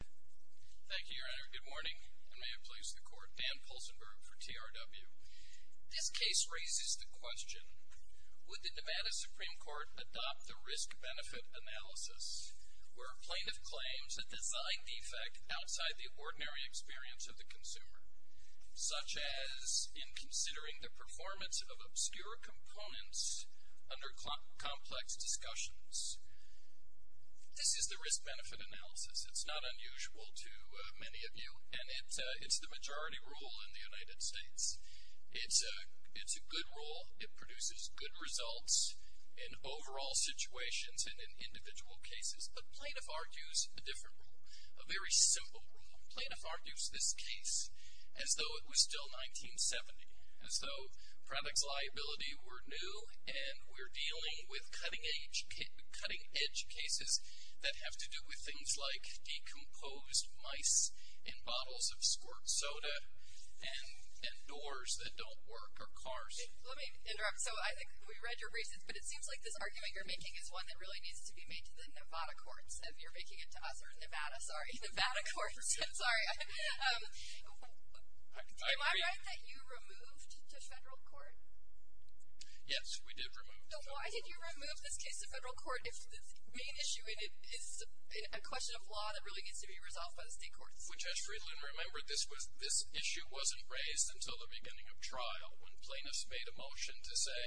Thank you, Your Honor. Good morning, and may it please the Court. Dan Polzenberg for TRW. This case raises the question, would the Nevada Supreme Court adopt the risk-benefit analysis where a plaintiff claims a design defect outside the ordinary experience of the consumer, such as in considering the performance of obscure components under complex discussions? This is the risk-benefit analysis. It's not unusual to many of you, and it's the majority rule in the United States. It's a good rule. It produces good results in overall situations and in individual cases. But plaintiff argues a different rule, a very simple rule. Plaintiff argues this case as though it was still 1970, as though products liability were new and we're dealing with cutting-edge cases that have to do with things like decomposed mice in bottles of squirt soda and doors that don't work or cars. Let me interrupt. So I think we read your reasons, but it seems like this argument you're making is one that really needs to be made to the Nevada courts, if you're making it to us or Nevada. Sorry, Nevada courts. Sorry. Am I right that you removed to federal court? Yes, we did remove. So why did you remove this case to federal court if the main issue in it is a question of law that really needs to be resolved by the state courts? Which, as Friedland remembered, this issue wasn't raised until the beginning of trial when plaintiffs made a motion to say,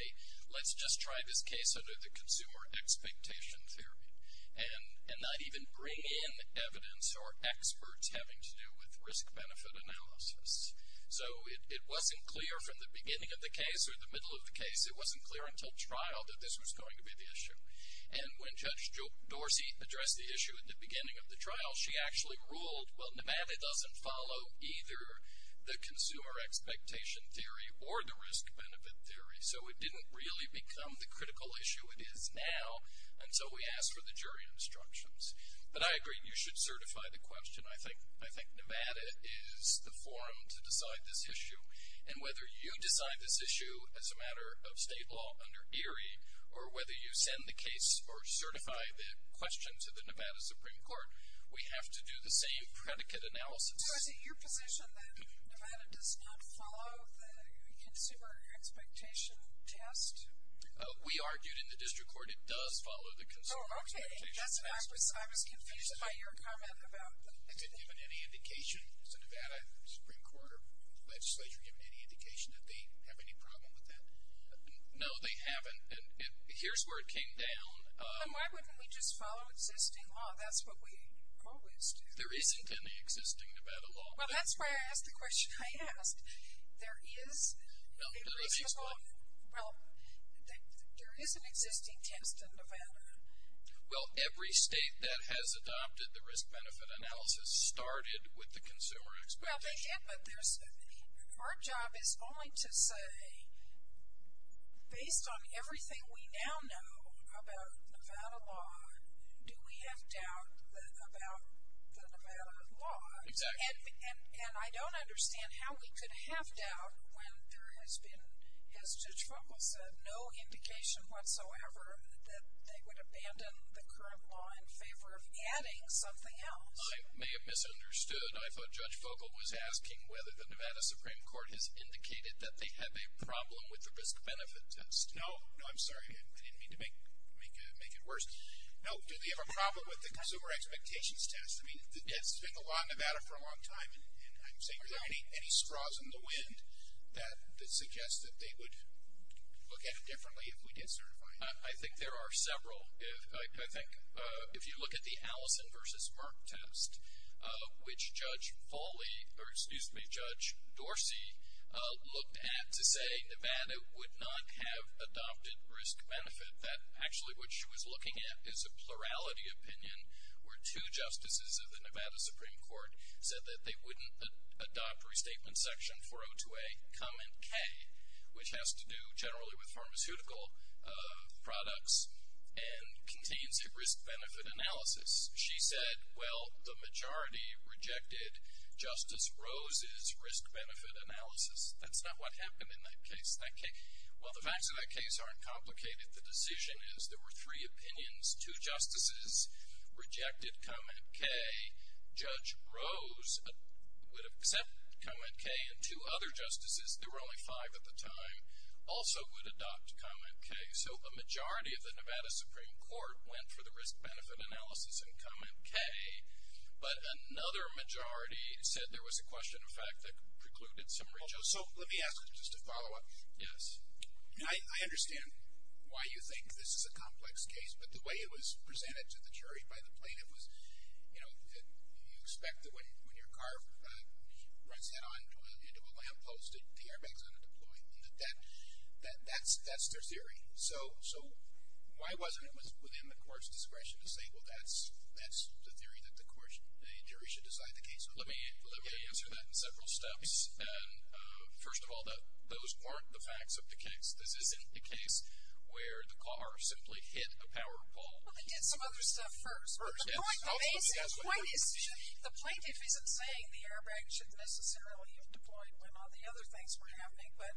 let's just try this case under the consumer expectation theory and not even bring in evidence or experts having to do with risk-benefit analysis. So it wasn't clear from the beginning of the case or the middle of the case, it wasn't clear until trial that this was going to be the issue. And when Judge Dorsey addressed the issue at the beginning of the trial, she actually ruled, well, Nevada doesn't follow either the consumer expectation theory or the risk-benefit theory, so it didn't really become the critical issue it is now until we asked for the jury instructions. But I agree, you should certify the question. I think Nevada is the forum to decide this issue. And whether you decide this issue as a matter of state law under ERIE or whether you send the case or certify the question to the Nevada Supreme Court, we have to do the same predicate analysis. So is it your position that Nevada does not follow the consumer expectation test? We argued in the district court it does follow the consumer expectation test. Oh, okay. I was confused by your comment about that. Has it given any indication? Has the Nevada Supreme Court or legislature given any indication that they have any problem with that? No, they haven't. And here's where it came down. Well, why wouldn't we just follow existing law? That's what we always do. There isn't any existing Nevada law. Well, that's why I asked the question I asked. There is an existing test in Nevada. Well, every state that has adopted the risk-benefit analysis started with the consumer expectation. Well, they did, but our job is only to say, based on everything we now know about Nevada law, do we have doubt about the Nevada law? Exactly. And I don't understand how we could have doubt when there has been, as Judge Vogel said, no indication whatsoever that they would abandon the current law in favor of adding something else. I may have misunderstood. I thought Judge Vogel was asking whether the Nevada Supreme Court has indicated that they have a problem with the risk-benefit test. No. No, I'm sorry. I didn't mean to make it worse. No, do they have a problem with the consumer expectations test? I mean, it's been the law in Nevada for a long time, and I'm saying, are there any straws in the wind that suggest that they would look at it differently if we did certify it? I think there are several. I think if you look at the Allison versus Merck test, which Judge Foley, or excuse me, Judge Dorsey looked at to say Nevada would not have adopted risk-benefit, that actually what she was looking at is a plurality opinion where two justices of the Nevada Supreme Court said that they wouldn't adopt Restatement Section 402A, comment K, which has to do generally with pharmaceutical products and contains a risk-benefit analysis. She said, well, the majority rejected Justice Rose's risk-benefit analysis. That's not what happened in that case. Well, the facts of that case aren't complicated. The decision is there were three opinions. Two justices rejected comment K. Judge Rose would accept comment K, and two other justices, there were only five at the time, also would adopt comment K. So a majority of the Nevada Supreme Court went for the risk-benefit analysis and comment K, but another majority said there was a question in fact that precluded some reach. So let me ask just a follow-up. Yes. I understand why you think this is a complex case, but the way it was presented to the jury by the plaintiff was, you know, you expect that when your car runs head-on into a lamppost, the airbag is going to deploy. That's their theory. So why wasn't it within the court's discretion to say, well, that's the theory that the jury should decide the case? Let me answer that in several steps. First of all, those weren't the facts of the case. This isn't the case where the car simply hit a power pole. Well, they did some other stuff first. The point is, the plaintiff isn't saying the airbag should necessarily have deployed when all the other things were happening, but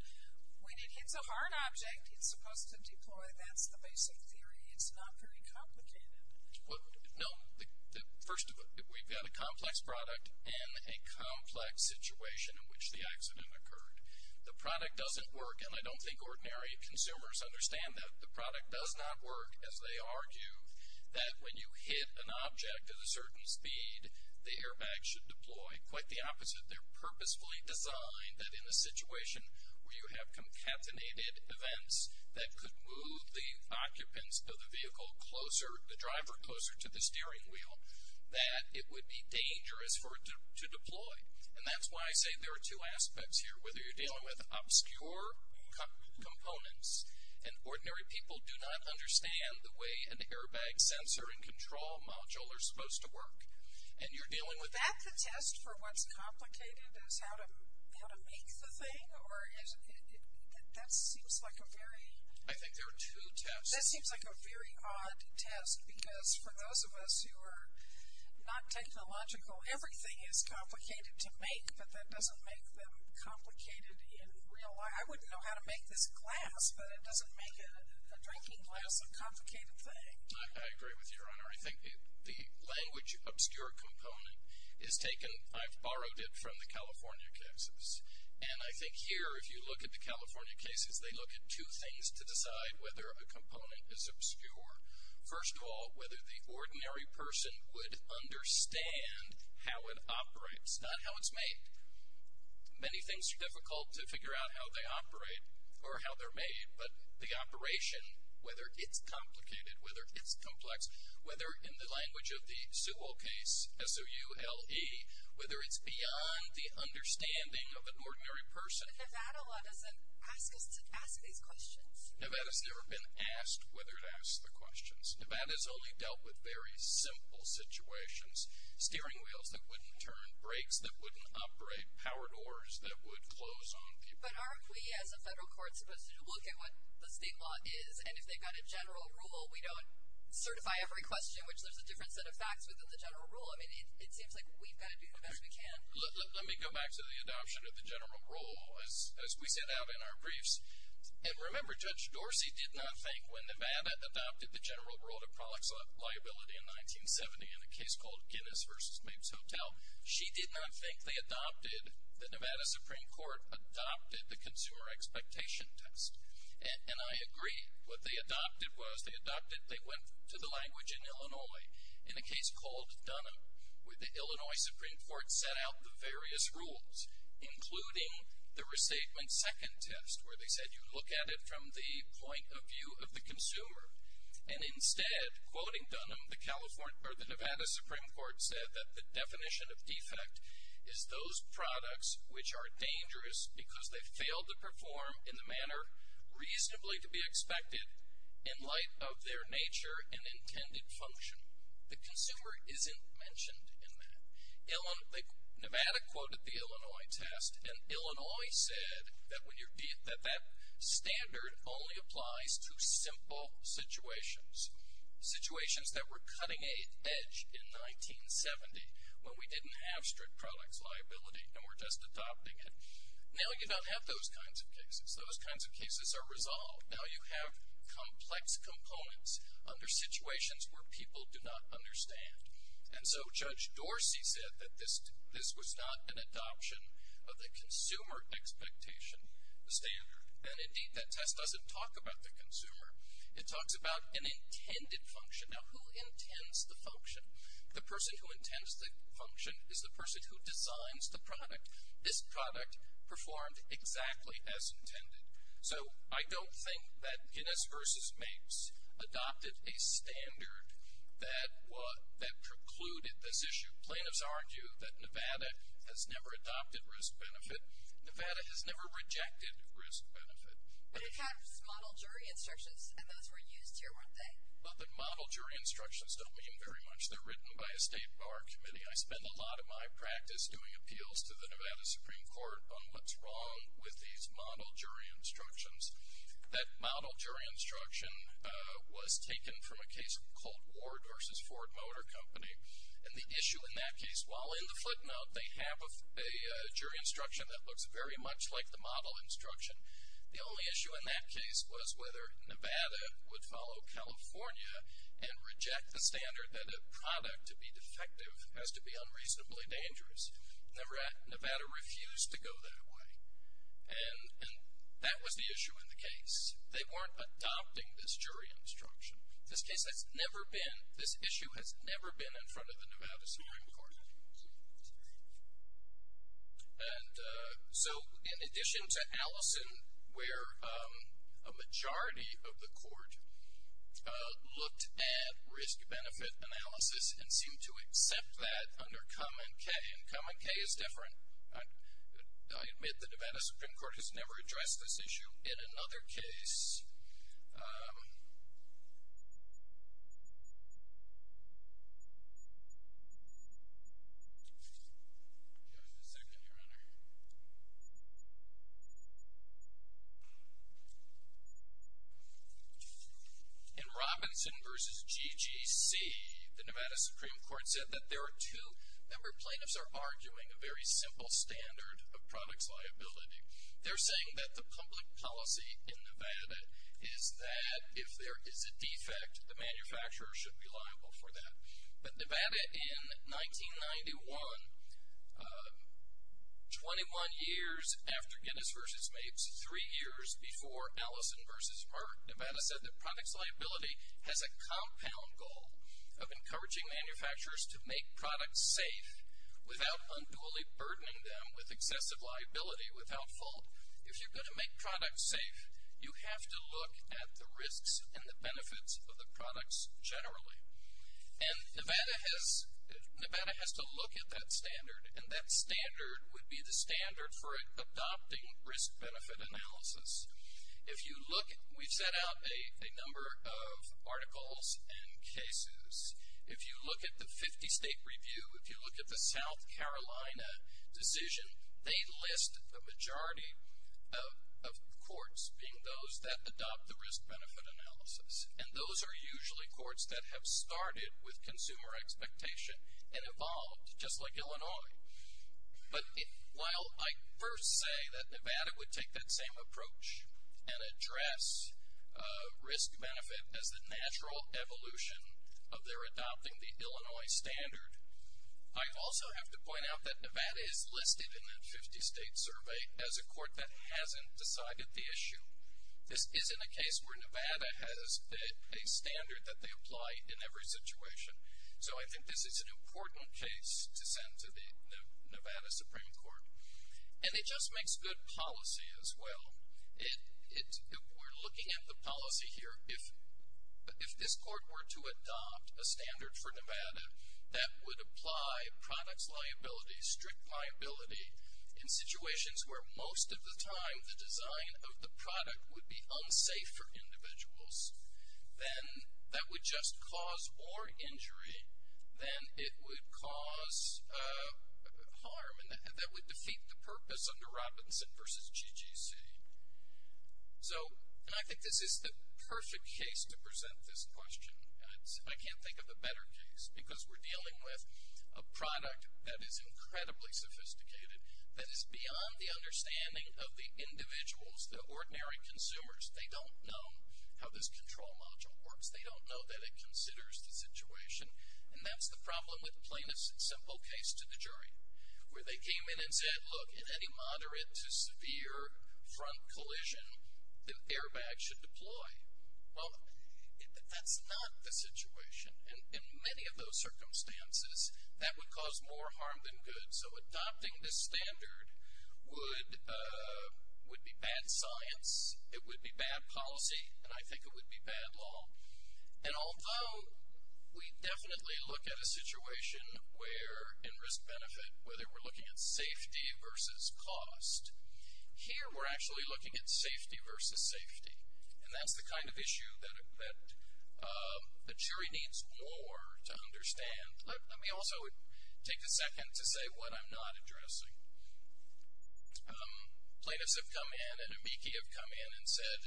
when it hits a hard object, it's supposed to deploy. That's the basic theory. It's not very complicated. No. First of all, we've got a complex product and a complex situation in which the accident occurred. The product doesn't work, and I don't think ordinary consumers understand that. The product does not work, as they argue, that when you hit an object at a certain speed, the airbag should deploy. Quite the opposite. They're purposefully designed that in a situation where you have concatenated events that could move the occupants of the vehicle closer, the driver closer to the steering wheel, that it would be dangerous for it to deploy. And that's why I say there are two aspects here, whether you're dealing with obscure components and ordinary people do not understand the way an airbag sensor and control module are supposed to work, and you're dealing with that. Is that the test for what's complicated is how to make the thing? That seems like a very... I think there are two tests. That seems like a very odd test, because for those of us who are not technological, everything is complicated to make, but that doesn't make them complicated in real life. I wouldn't know how to make this glass, but it doesn't make a drinking glass a complicated thing. I agree with you, Your Honor. I think the language obscure component is taken... I've borrowed it from the California cases. And I think here, if you look at the California cases, they look at two things to decide whether a component is obscure. First of all, whether the ordinary person would understand how it operates, not how it's made. Many things are difficult to figure out how they operate or how they're made, but the operation, whether it's complicated, whether it's complex, whether in the language of the Sewell case, S-O-U-L-E, whether it's beyond the understanding of an ordinary person. But Nevada law doesn't ask us to ask these questions. Nevada's never been asked whether it asks the questions. Nevada's only dealt with very simple situations, steering wheels that wouldn't turn, brakes that wouldn't operate, power doors that would close on people. But aren't we, as a federal court, supposed to look at what the state law is, and if they've got a general rule, we don't certify every question, which there's a different set of facts within the general rule. I mean, it seems like we've got to do the best we can. Let me go back to the adoption of the general rule, as we set out in our briefs. And remember, Judge Dorsey did not think, when Nevada adopted the general rule of products liability in 1970, in a case called Guinness v. Mabes Hotel, she did not think the Nevada Supreme Court adopted the consumer expectation test. And I agree. What they adopted was they went to the language in Illinois, in a case called Dunham, where the Illinois Supreme Court set out the various rules, including the receipt and second test, where they said you look at it from the point of view of the consumer. And instead, quoting Dunham, the Nevada Supreme Court said that the definition of defect is those products which are dangerous because they fail to perform in the manner reasonably to be expected in light of their nature and intended function. The consumer isn't mentioned in that. Nevada quoted the Illinois test. And Illinois said that that standard only applies to simple situations, situations that were cutting edge in 1970, when we didn't have strict products liability and were just adopting it. Now you don't have those kinds of cases. Those kinds of cases are resolved. Now you have complex components under situations where people do not understand. And so Judge Dorsey said that this was not an adoption of the consumer expectation standard. And, indeed, that test doesn't talk about the consumer. It talks about an intended function. Now who intends the function? The person who intends the function is the person who designs the product. This product performed exactly as intended. So I don't think that Guinness v. Mapes adopted a standard that precluded this issue. Plaintiffs argue that Nevada has never adopted risk-benefit. Nevada has never rejected risk-benefit. But it had model jury instructions, and those were used here, weren't they? Well, the model jury instructions don't mean very much. They're written by a state bar committee. I spend a lot of my practice doing appeals to the Nevada Supreme Court on what's wrong with these model jury instructions. That model jury instruction was taken from a case called Ward v. Ford Motor Company. And the issue in that case, while in the footnote they have a jury instruction that looks very much like the model instruction, the only issue in that case was whether Nevada would follow California and reject the standard that a product to be defective has to be unreasonably dangerous. Nevada refused to go that way, and that was the issue in the case. They weren't adopting this jury instruction. This case has never been, this issue has never been in front of the Nevada Supreme Court. And so in addition to Allison, where a majority of the court looked at risk-benefit analysis and seemed to accept that under Cum and Kay, and Cum and Kay is different. I admit the Nevada Supreme Court has never addressed this issue in another case. Give me a second, Your Honor. In Robinson v. GGC, the Nevada Supreme Court said that there are two, member plaintiffs are arguing a very simple standard of product's liability. They're saying that the public policy in Nevada is that if there is a defect, the manufacturer should be liable for that. But Nevada in 1991, 21 years after Guinness v. Mapes, three years before Allison v. Merck, Nevada said that product's liability has a compound goal of encouraging manufacturers to make products safe without unduly burdening them with excessive liability without fault. If you're going to make products safe, you have to look at the risks and the benefits of the products generally. And Nevada has to look at that standard, and that standard would be the standard for adopting risk-benefit analysis. If you look, we've sent out a number of articles and cases. If you look at the 50-state review, if you look at the South Carolina decision, they list the majority of courts being those that adopt the risk-benefit analysis. And those are usually courts that have started with consumer expectation and evolved, just like Illinois. But while I first say that Nevada would take that same approach and address risk-benefit as the natural evolution of their adopting the Illinois standard, I also have to point out that Nevada is listed in that 50-state survey as a court that hasn't decided the issue. This isn't a case where Nevada has a standard that they apply in every situation. So I think this is an important case to send to the Nevada Supreme Court. And it just makes good policy as well. We're looking at the policy here. If this court were to adopt a standard for Nevada that would apply products liability, strict liability in situations where most of the time the design of the product would be unsafe for individuals, then that would just cause more injury than it would cause harm and that would defeat the purpose under Robinson versus GGC. So I think this is the perfect case to present this question. I can't think of a better case because we're dealing with a product that is incredibly sophisticated, that is beyond the understanding of the individuals, the ordinary consumers. They don't know how this control module works. They don't know that it considers the situation. And that's the problem with plain and simple case to the jury where they came in and said, look, in any moderate to severe front collision, an airbag should deploy. Well, that's not the situation. In many of those circumstances, that would cause more harm than good. So adopting this standard would be bad science. It would be bad policy. And I think it would be bad law. And although we definitely look at a situation where in risk benefit, whether we're looking at safety versus cost, here we're actually looking at safety versus safety. And that's the kind of issue that a jury needs more to understand. Let me also take a second to say what I'm not addressing. Plaintiffs have come in and amici have come in and said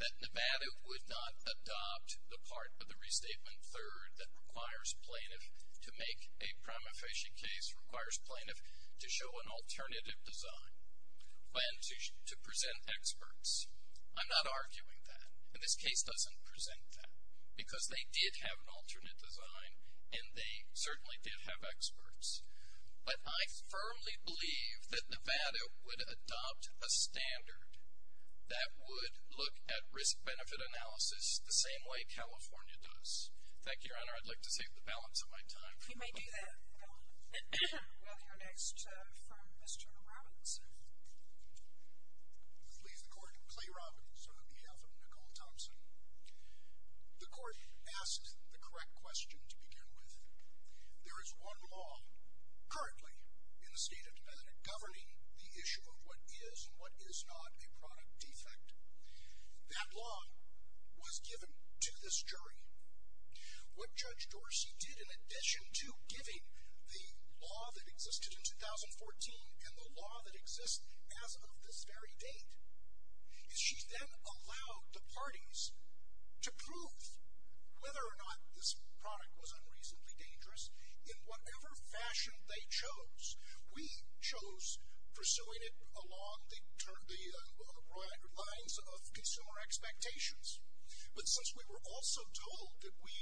that Nevada would not adopt the part of the restatement third that requires plaintiff to make a prima facie case, requires plaintiff to show an alternative design, when to present experts. I'm not arguing that. And this case doesn't present that because they did have an alternate design and they certainly did have experts. But I firmly believe that Nevada would adopt a standard that would look at risk benefit analysis the same way California does. Thank you, Your Honor. I'd like to save the balance of my time. We may do that. We'll hear next from Mr. Robbins. Please, the court. Clay Robbins on behalf of Nicole Thompson. The court asked the correct question to begin with. There is one law currently in the state of Nevada governing the issue of what is and what is not a product defect. That law was given to this jury. What Judge Dorsey did in addition to giving the law that existed in 2014 and the law that exists as of this very date is she then allowed the parties to prove whether or not this product was unreasonably dangerous in whatever fashion they chose. We chose pursuing it along the lines of consumer expectations. But since we were also told that we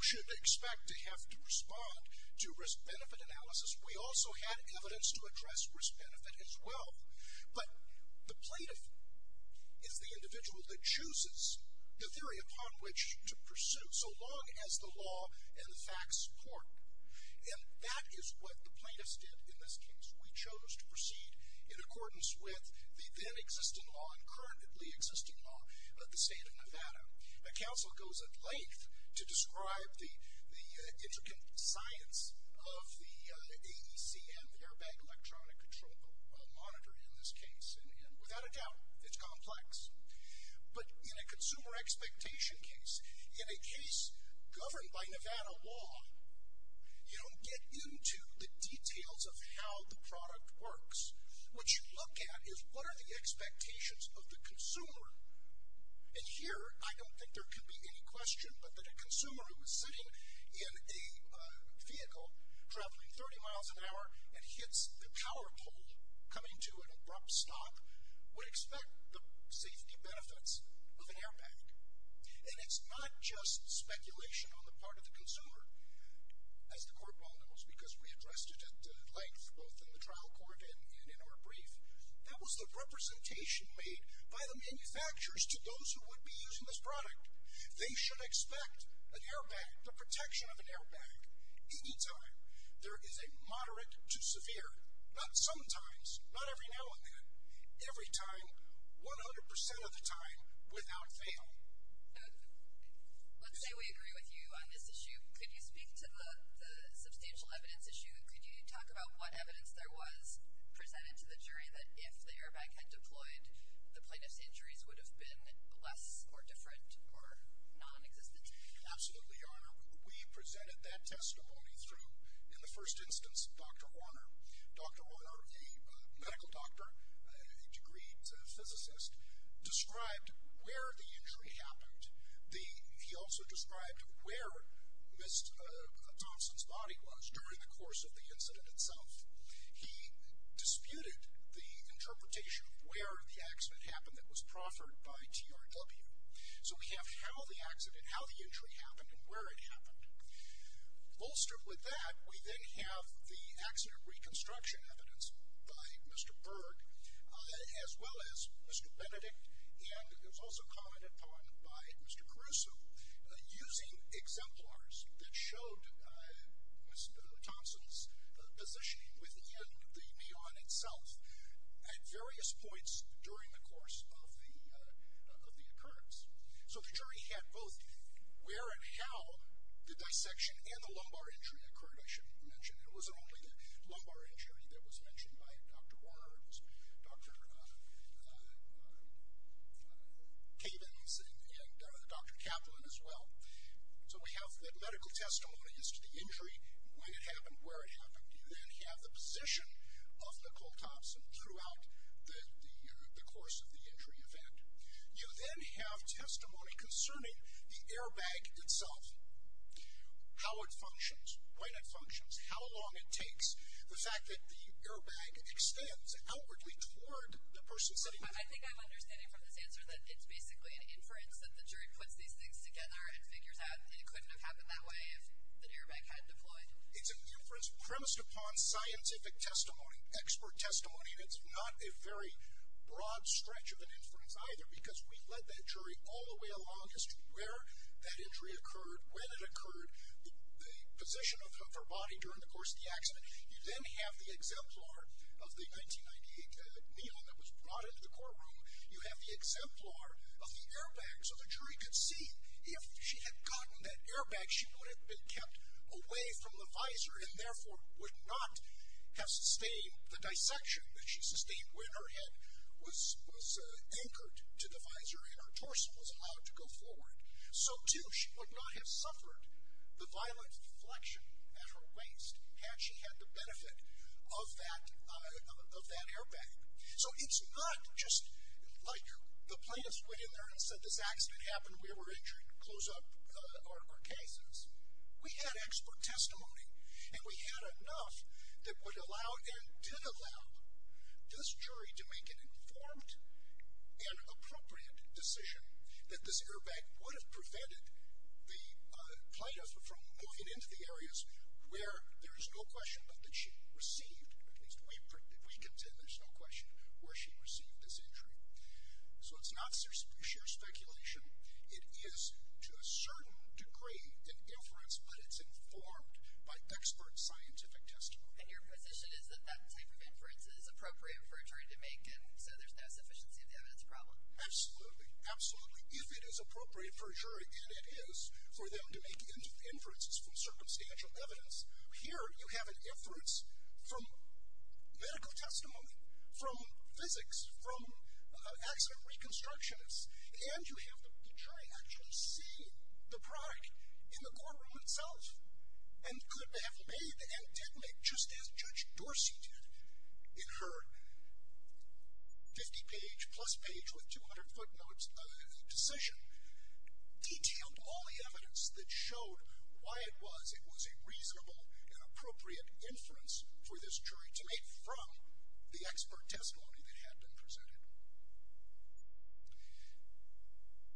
should expect to have to respond to risk benefit analysis, we also had evidence to address risk benefit as well. But the plaintiff is the individual that chooses the theory upon which to pursue so long as the law and the facts support. And that is what the plaintiffs did in this case. We chose to proceed in accordance with the then existing law and currently existing law of the state of Nevada. The counsel goes at length to describe the intricate science of the AECM, the Airbag Electronic Control Monitor in this case. And without a doubt, it's complex. But in a consumer expectation case, in a case governed by Nevada law, you don't get into the details of how the product works. What you look at is what are the expectations of the consumer. And here, I don't think there could be any question but that a consumer who was sitting in a vehicle traveling 30 miles an hour and hits the power pole coming to an abrupt stop, would expect the safety benefits of an airbag. And it's not just speculation on the part of the consumer, as the court well knows, because we addressed it at length both in the trial court and in our brief. That was the representation made by the manufacturers to those who would be using this product. They should expect an airbag, the protection of an airbag, any time. There is a moderate to severe, not sometimes, not every now and then, every time, 100% of the time, without fail. Let's say we agree with you on this issue. Could you speak to the substantial evidence issue? Could you talk about what evidence there was presented to the jury that if the airbag had deployed, the plaintiff's injuries would have been less or different or nonexistent? Absolutely, Your Honor. We presented that testimony through, in the first instance, Dr. Warner. Dr. Warner, a medical doctor, a degreed physicist, described where the injury happened. He also described where Ms. Thompson's body was during the course of the incident itself. He disputed the interpretation of where the accident happened that was proffered by TRW. So we have how the accident, how the injury happened and where it happened. Bolstered with that, we then have the accident reconstruction evidence by Mr. Berg, as well as Mr. Benedict, and it was also commented upon by Mr. Caruso, using exemplars that showed Ms. Thompson's positioning within the neon itself at various points during the course of the occurrence. So the jury had both where and how the dissection and the lumbar injury occurred, I should mention. It wasn't only the lumbar injury that was mentioned by Dr. Warner. It was Dr. Cavens and Dr. Kaplan as well. So we have that medical testimony as to the injury, when it happened, where it happened. You then have the position of Nicole Thompson throughout the course of the injury event. You then have testimony concerning the airbag itself, how it functions, when it functions, how long it takes, the fact that the airbag extends outwardly toward the person sitting there. I think I'm understanding from this answer that it's basically an inference that the jury puts these things together and figures out that it couldn't have happened that way if the airbag had deployed. It's an inference premised upon scientific testimony, expert testimony, and it's not a very broad stretch of an inference either because we led that jury all the way along as to where that injury occurred, when it occurred, the position of her body during the course of the accident. You then have the exemplar of the 1998 neon that was brought into the courtroom. You have the exemplar of the airbag so the jury could see. If she had gotten that airbag, she would have been kept away from the visor and therefore would not have sustained the dissection that she sustained when her head was anchored to the visor and her torso was allowed to go forward. So too, she would not have suffered the violent deflection at her waist had she had the benefit of that airbag. So it's not just like the plaintiffs went in there and said, this accident happened, we were injured, close up our cases. We had expert testimony and we had enough that would allow and did allow this jury to make an informed and appropriate decision that this airbag would have prevented the plaintiff from moving into the areas where there is no question that she received, at least we can say there's no question, where she received this injury. So it's not sheer speculation. It is to a certain degree an inference, but it's informed by expert scientific testimony. And your position is that that type of inference is appropriate for a jury to make and so there's no sufficiency of the evidence problem? Absolutely. Absolutely. If it is appropriate for a jury, and it is, for them to make inferences from circumstantial evidence, here you have an inference from medical testimony, from physics, from accident reconstructionists, and you have the jury actually see the product in the courtroom itself and could have made and did make, just as Judge Dorsey did, in her 50 page plus page with 200 footnotes decision, detailed all the evidence that showed why it was it was a reasonable and appropriate inference for this jury to make from the expert testimony that had been presented.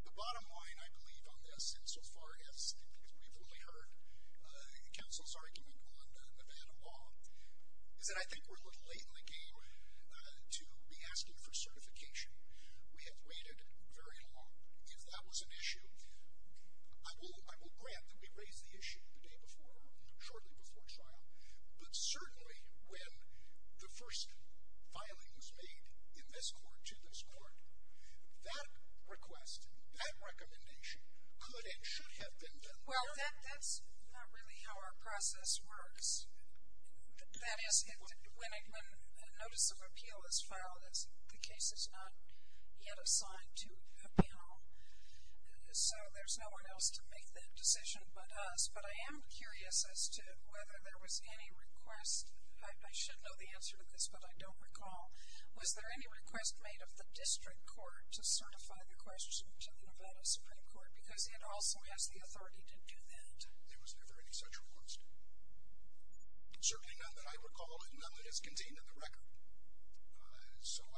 The bottom line, I believe, on this, and so far as we've only heard counsel's argument on the Nevada law, is that I think we're a little late in the game to be asking for certification. We have waited very long. If that was an issue, I will grant that we raised the issue the day before or shortly before trial, but certainly when the first filing was made in this court to this court, that request, that recommendation, could and should have been done earlier. Well, that's not really how our process works. That is, when a notice of appeal is filed, the case is not yet assigned to a panel, so there's no one else to make that decision but us, but I am curious as to whether there was any request. I should know the answer to this, but I don't recall. Was there any request made of the district court to certify the question to the Nevada Supreme Court because it also has the authority to do that? There was never any such request. Certainly none that I recall and none that is contained in the record. Well,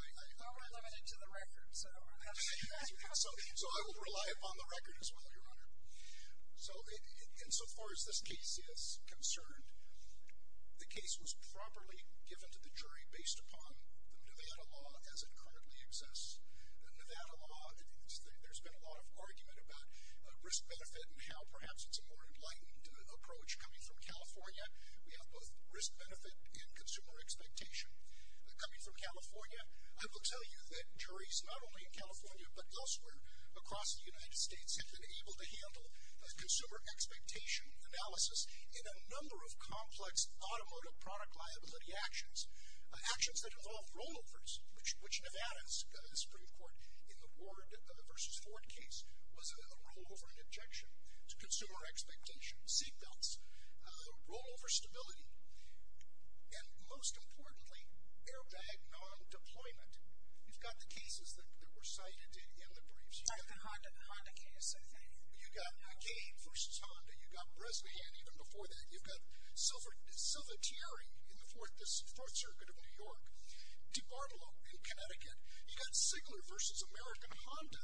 we're limited to the record. So I will rely upon the record as well, Your Honor. So insofar as this case is concerned, the case was properly given to the jury based upon the Nevada law as it currently exists. The Nevada law, there's been a lot of argument about risk-benefit and how perhaps it's a more enlightened approach coming from California. We have both risk-benefit and consumer expectation. Coming from California, I will tell you that juries not only in California but elsewhere across the United States have been able to handle consumer expectation analysis in a number of complex automotive product liability actions, actions that involve rollovers, which Nevada's Supreme Court in the Ward v. Ford case was a rollover and injection to consumer expectation, seatbelts, rollover stability, and most importantly, airbag non-deployment. You've got the cases that were cited in the briefs. The Honda case, I think. You've got Akeem v. Honda. You've got Bresnahan even before that. You've got Silvertieri in the Fourth Circuit of New York, DiBartolo in Connecticut. You've got Sigler v. American Honda,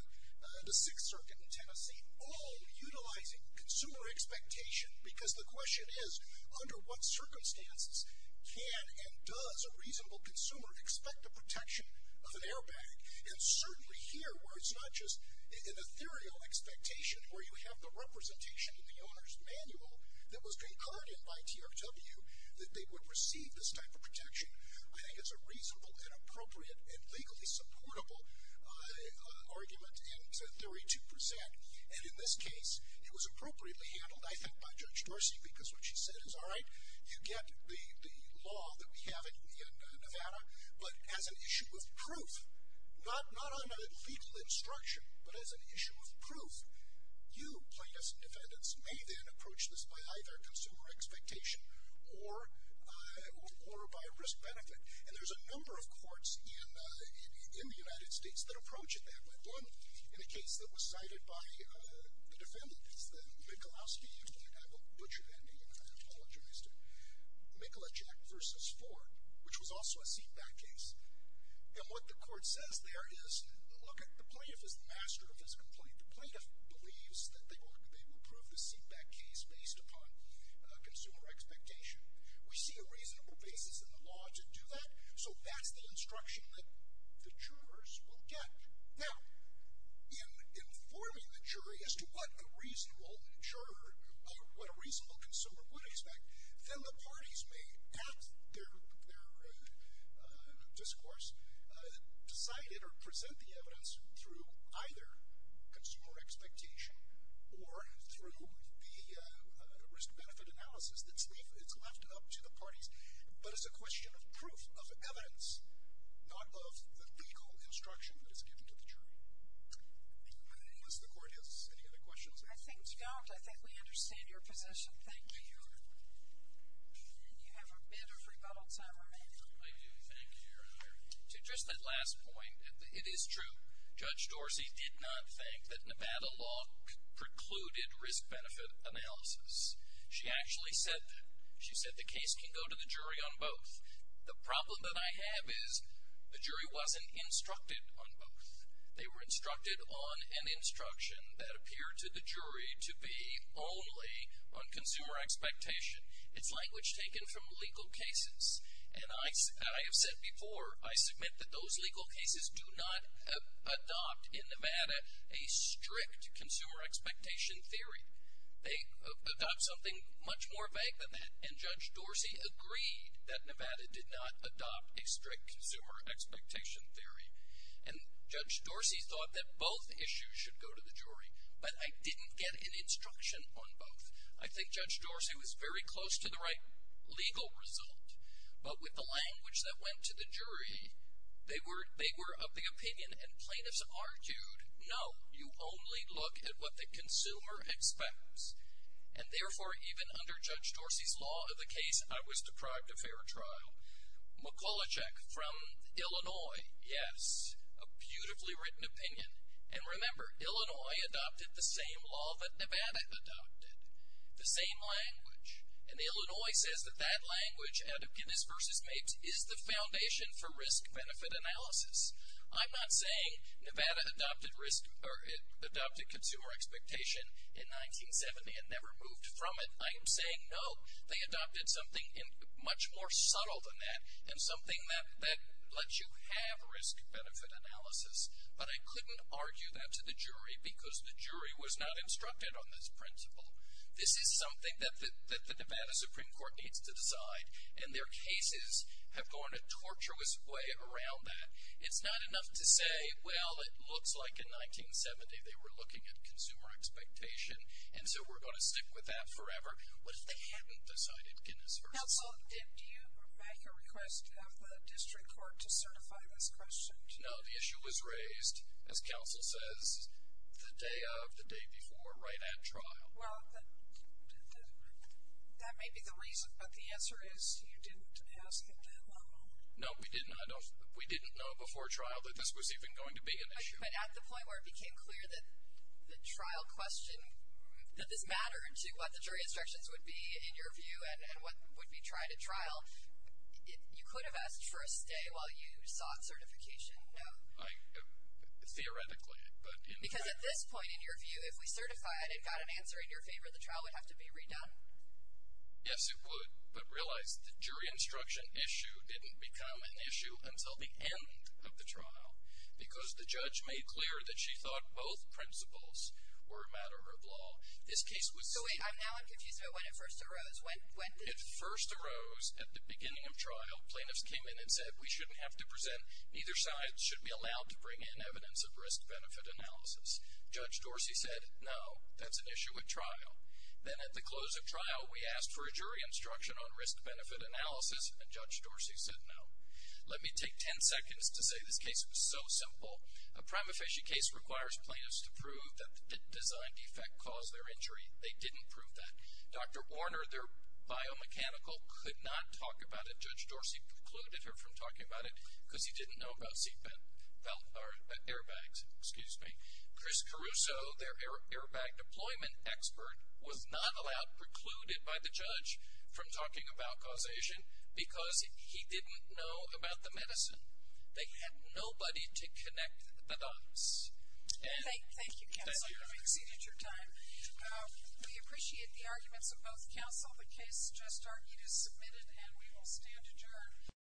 the Sixth Circuit in Tennessee, all utilizing consumer expectation because the question is, under what circumstances can and does a reasonable consumer expect the protection of an airbag? And certainly here where it's not just an ethereal expectation where you have the representation in the owner's manual that was concordant by TRW that they would receive this type of protection. I think it's a reasonable and appropriate and legally supportable argument and 32%. And in this case, it was appropriately handled, I think, by Judge Dorsey because what she said is, all right, you get the law that we have in Nevada, but as an issue of proof, not on a legal instruction, but as an issue of proof, you plaintiffs and defendants may then approach this by either consumer expectation or by risk-benefit. And there's a number of courts in the United States that approach it that way. There's one in a case that was cited by the defendants, the Michalowski case. I have a butchered ending, and I apologize to Michalajek v. Ford, which was also a seatback case. And what the court says there is, look, the plaintiff is the master of his complaint. The plaintiff believes that they will prove the seatback case based upon consumer expectation. We see a reasonable basis in the law to do that, so that's the instruction that the jurors will get. Now, in informing the jury as to what a reasonable consumer would expect, then the parties may, at their discourse, decide it or present the evidence through either consumer expectation or through the risk-benefit analysis that's left up to the parties, but it's a question of proof, of evidence, not of the legal instruction that is given to the jury. Unless the court has any other questions. I think not. I think we understand your position. Thank you. And you have a bit of rebuttal time remaining. I do. Thank you, Your Honor. To just that last point, it is true Judge Dorsey did not think that Nevada law precluded risk-benefit analysis. She actually said that. She said the case can go to the jury on both. The problem that I have is the jury wasn't instructed on both. They were instructed on an instruction that appeared to the jury to be only on consumer expectation. It's language taken from legal cases, and I have said before, I submit that those legal cases do not adopt in Nevada a strict consumer expectation theory. They adopt something much more vague than that, and Judge Dorsey agreed that Nevada did not adopt a strict consumer expectation theory. And Judge Dorsey thought that both issues should go to the jury, but I didn't get an instruction on both. I think Judge Dorsey was very close to the right legal result, but with the language that went to the jury, they were of the opinion, and plaintiffs argued, no, you only look at what the consumer expects. And therefore, even under Judge Dorsey's law of the case, I was deprived of fair trial. McCullochek from Illinois, yes, a beautifully written opinion. And remember, Illinois adopted the same law that Nevada adopted, the same language. And Illinois says that that language, out of Guinness v. Mabes, is the foundation for risk-benefit analysis. I'm not saying Nevada adopted consumer expectation in 1970 and never moved from it. I am saying, no, they adopted something much more subtle than that, and something that lets you have risk-benefit analysis. But I couldn't argue that to the jury, because the jury was not instructed on this principle. This is something that the Nevada Supreme Court needs to decide, and their cases have gone a tortuous way around that. It's not enough to say, well, it looks like in 1970 they were looking at consumer expectation, and so we're going to stick with that forever. What if they hadn't decided Guinness v. Mabes? Counsel, did you make a request of the district court to certify this question? No, the issue was raised, as counsel says, the day of, the day before, right at trial. Well, that may be the reason, but the answer is you didn't ask at that level. No, we didn't. We didn't know before trial that this was even going to be an issue. But at the point where it became clear that the trial question, that this mattered to what the jury instructions would be, in your view, and what would be tried at trial, you could have asked for a stay while you sought certification? No. Theoretically. Because at this point, in your view, if we certify it and got an answer in your favor, the trial would have to be redone. Yes, it would. But realize the jury instruction issue didn't become an issue until the end of the trial because the judge made clear that she thought both principles were a matter of law. This case was... So wait, now I'm confused about when it first arose. It first arose at the beginning of trial. Plaintiffs came in and said we shouldn't have to present. Neither side should be allowed to bring in evidence of risk-benefit analysis. Judge Dorsey said no, that's an issue at trial. Then at the close of trial, we asked for a jury instruction on risk-benefit analysis, and Judge Dorsey said no. Let me take ten seconds to say this case was so simple. A prima facie case requires plaintiffs to prove that the design defect caused their injury. They didn't prove that. Dr. Warner, their biomechanical, could not talk about it. He precluded her from talking about it because he didn't know about airbags. Excuse me. Chris Caruso, their airbag deployment expert, was not allowed, precluded by the judge, from talking about causation because he didn't know about the medicine. They had nobody to connect the dots. Thank you, counsel. I appreciate your time. We appreciate the arguments of both counsel. The case just argued is submitted, and we will stand adjourned.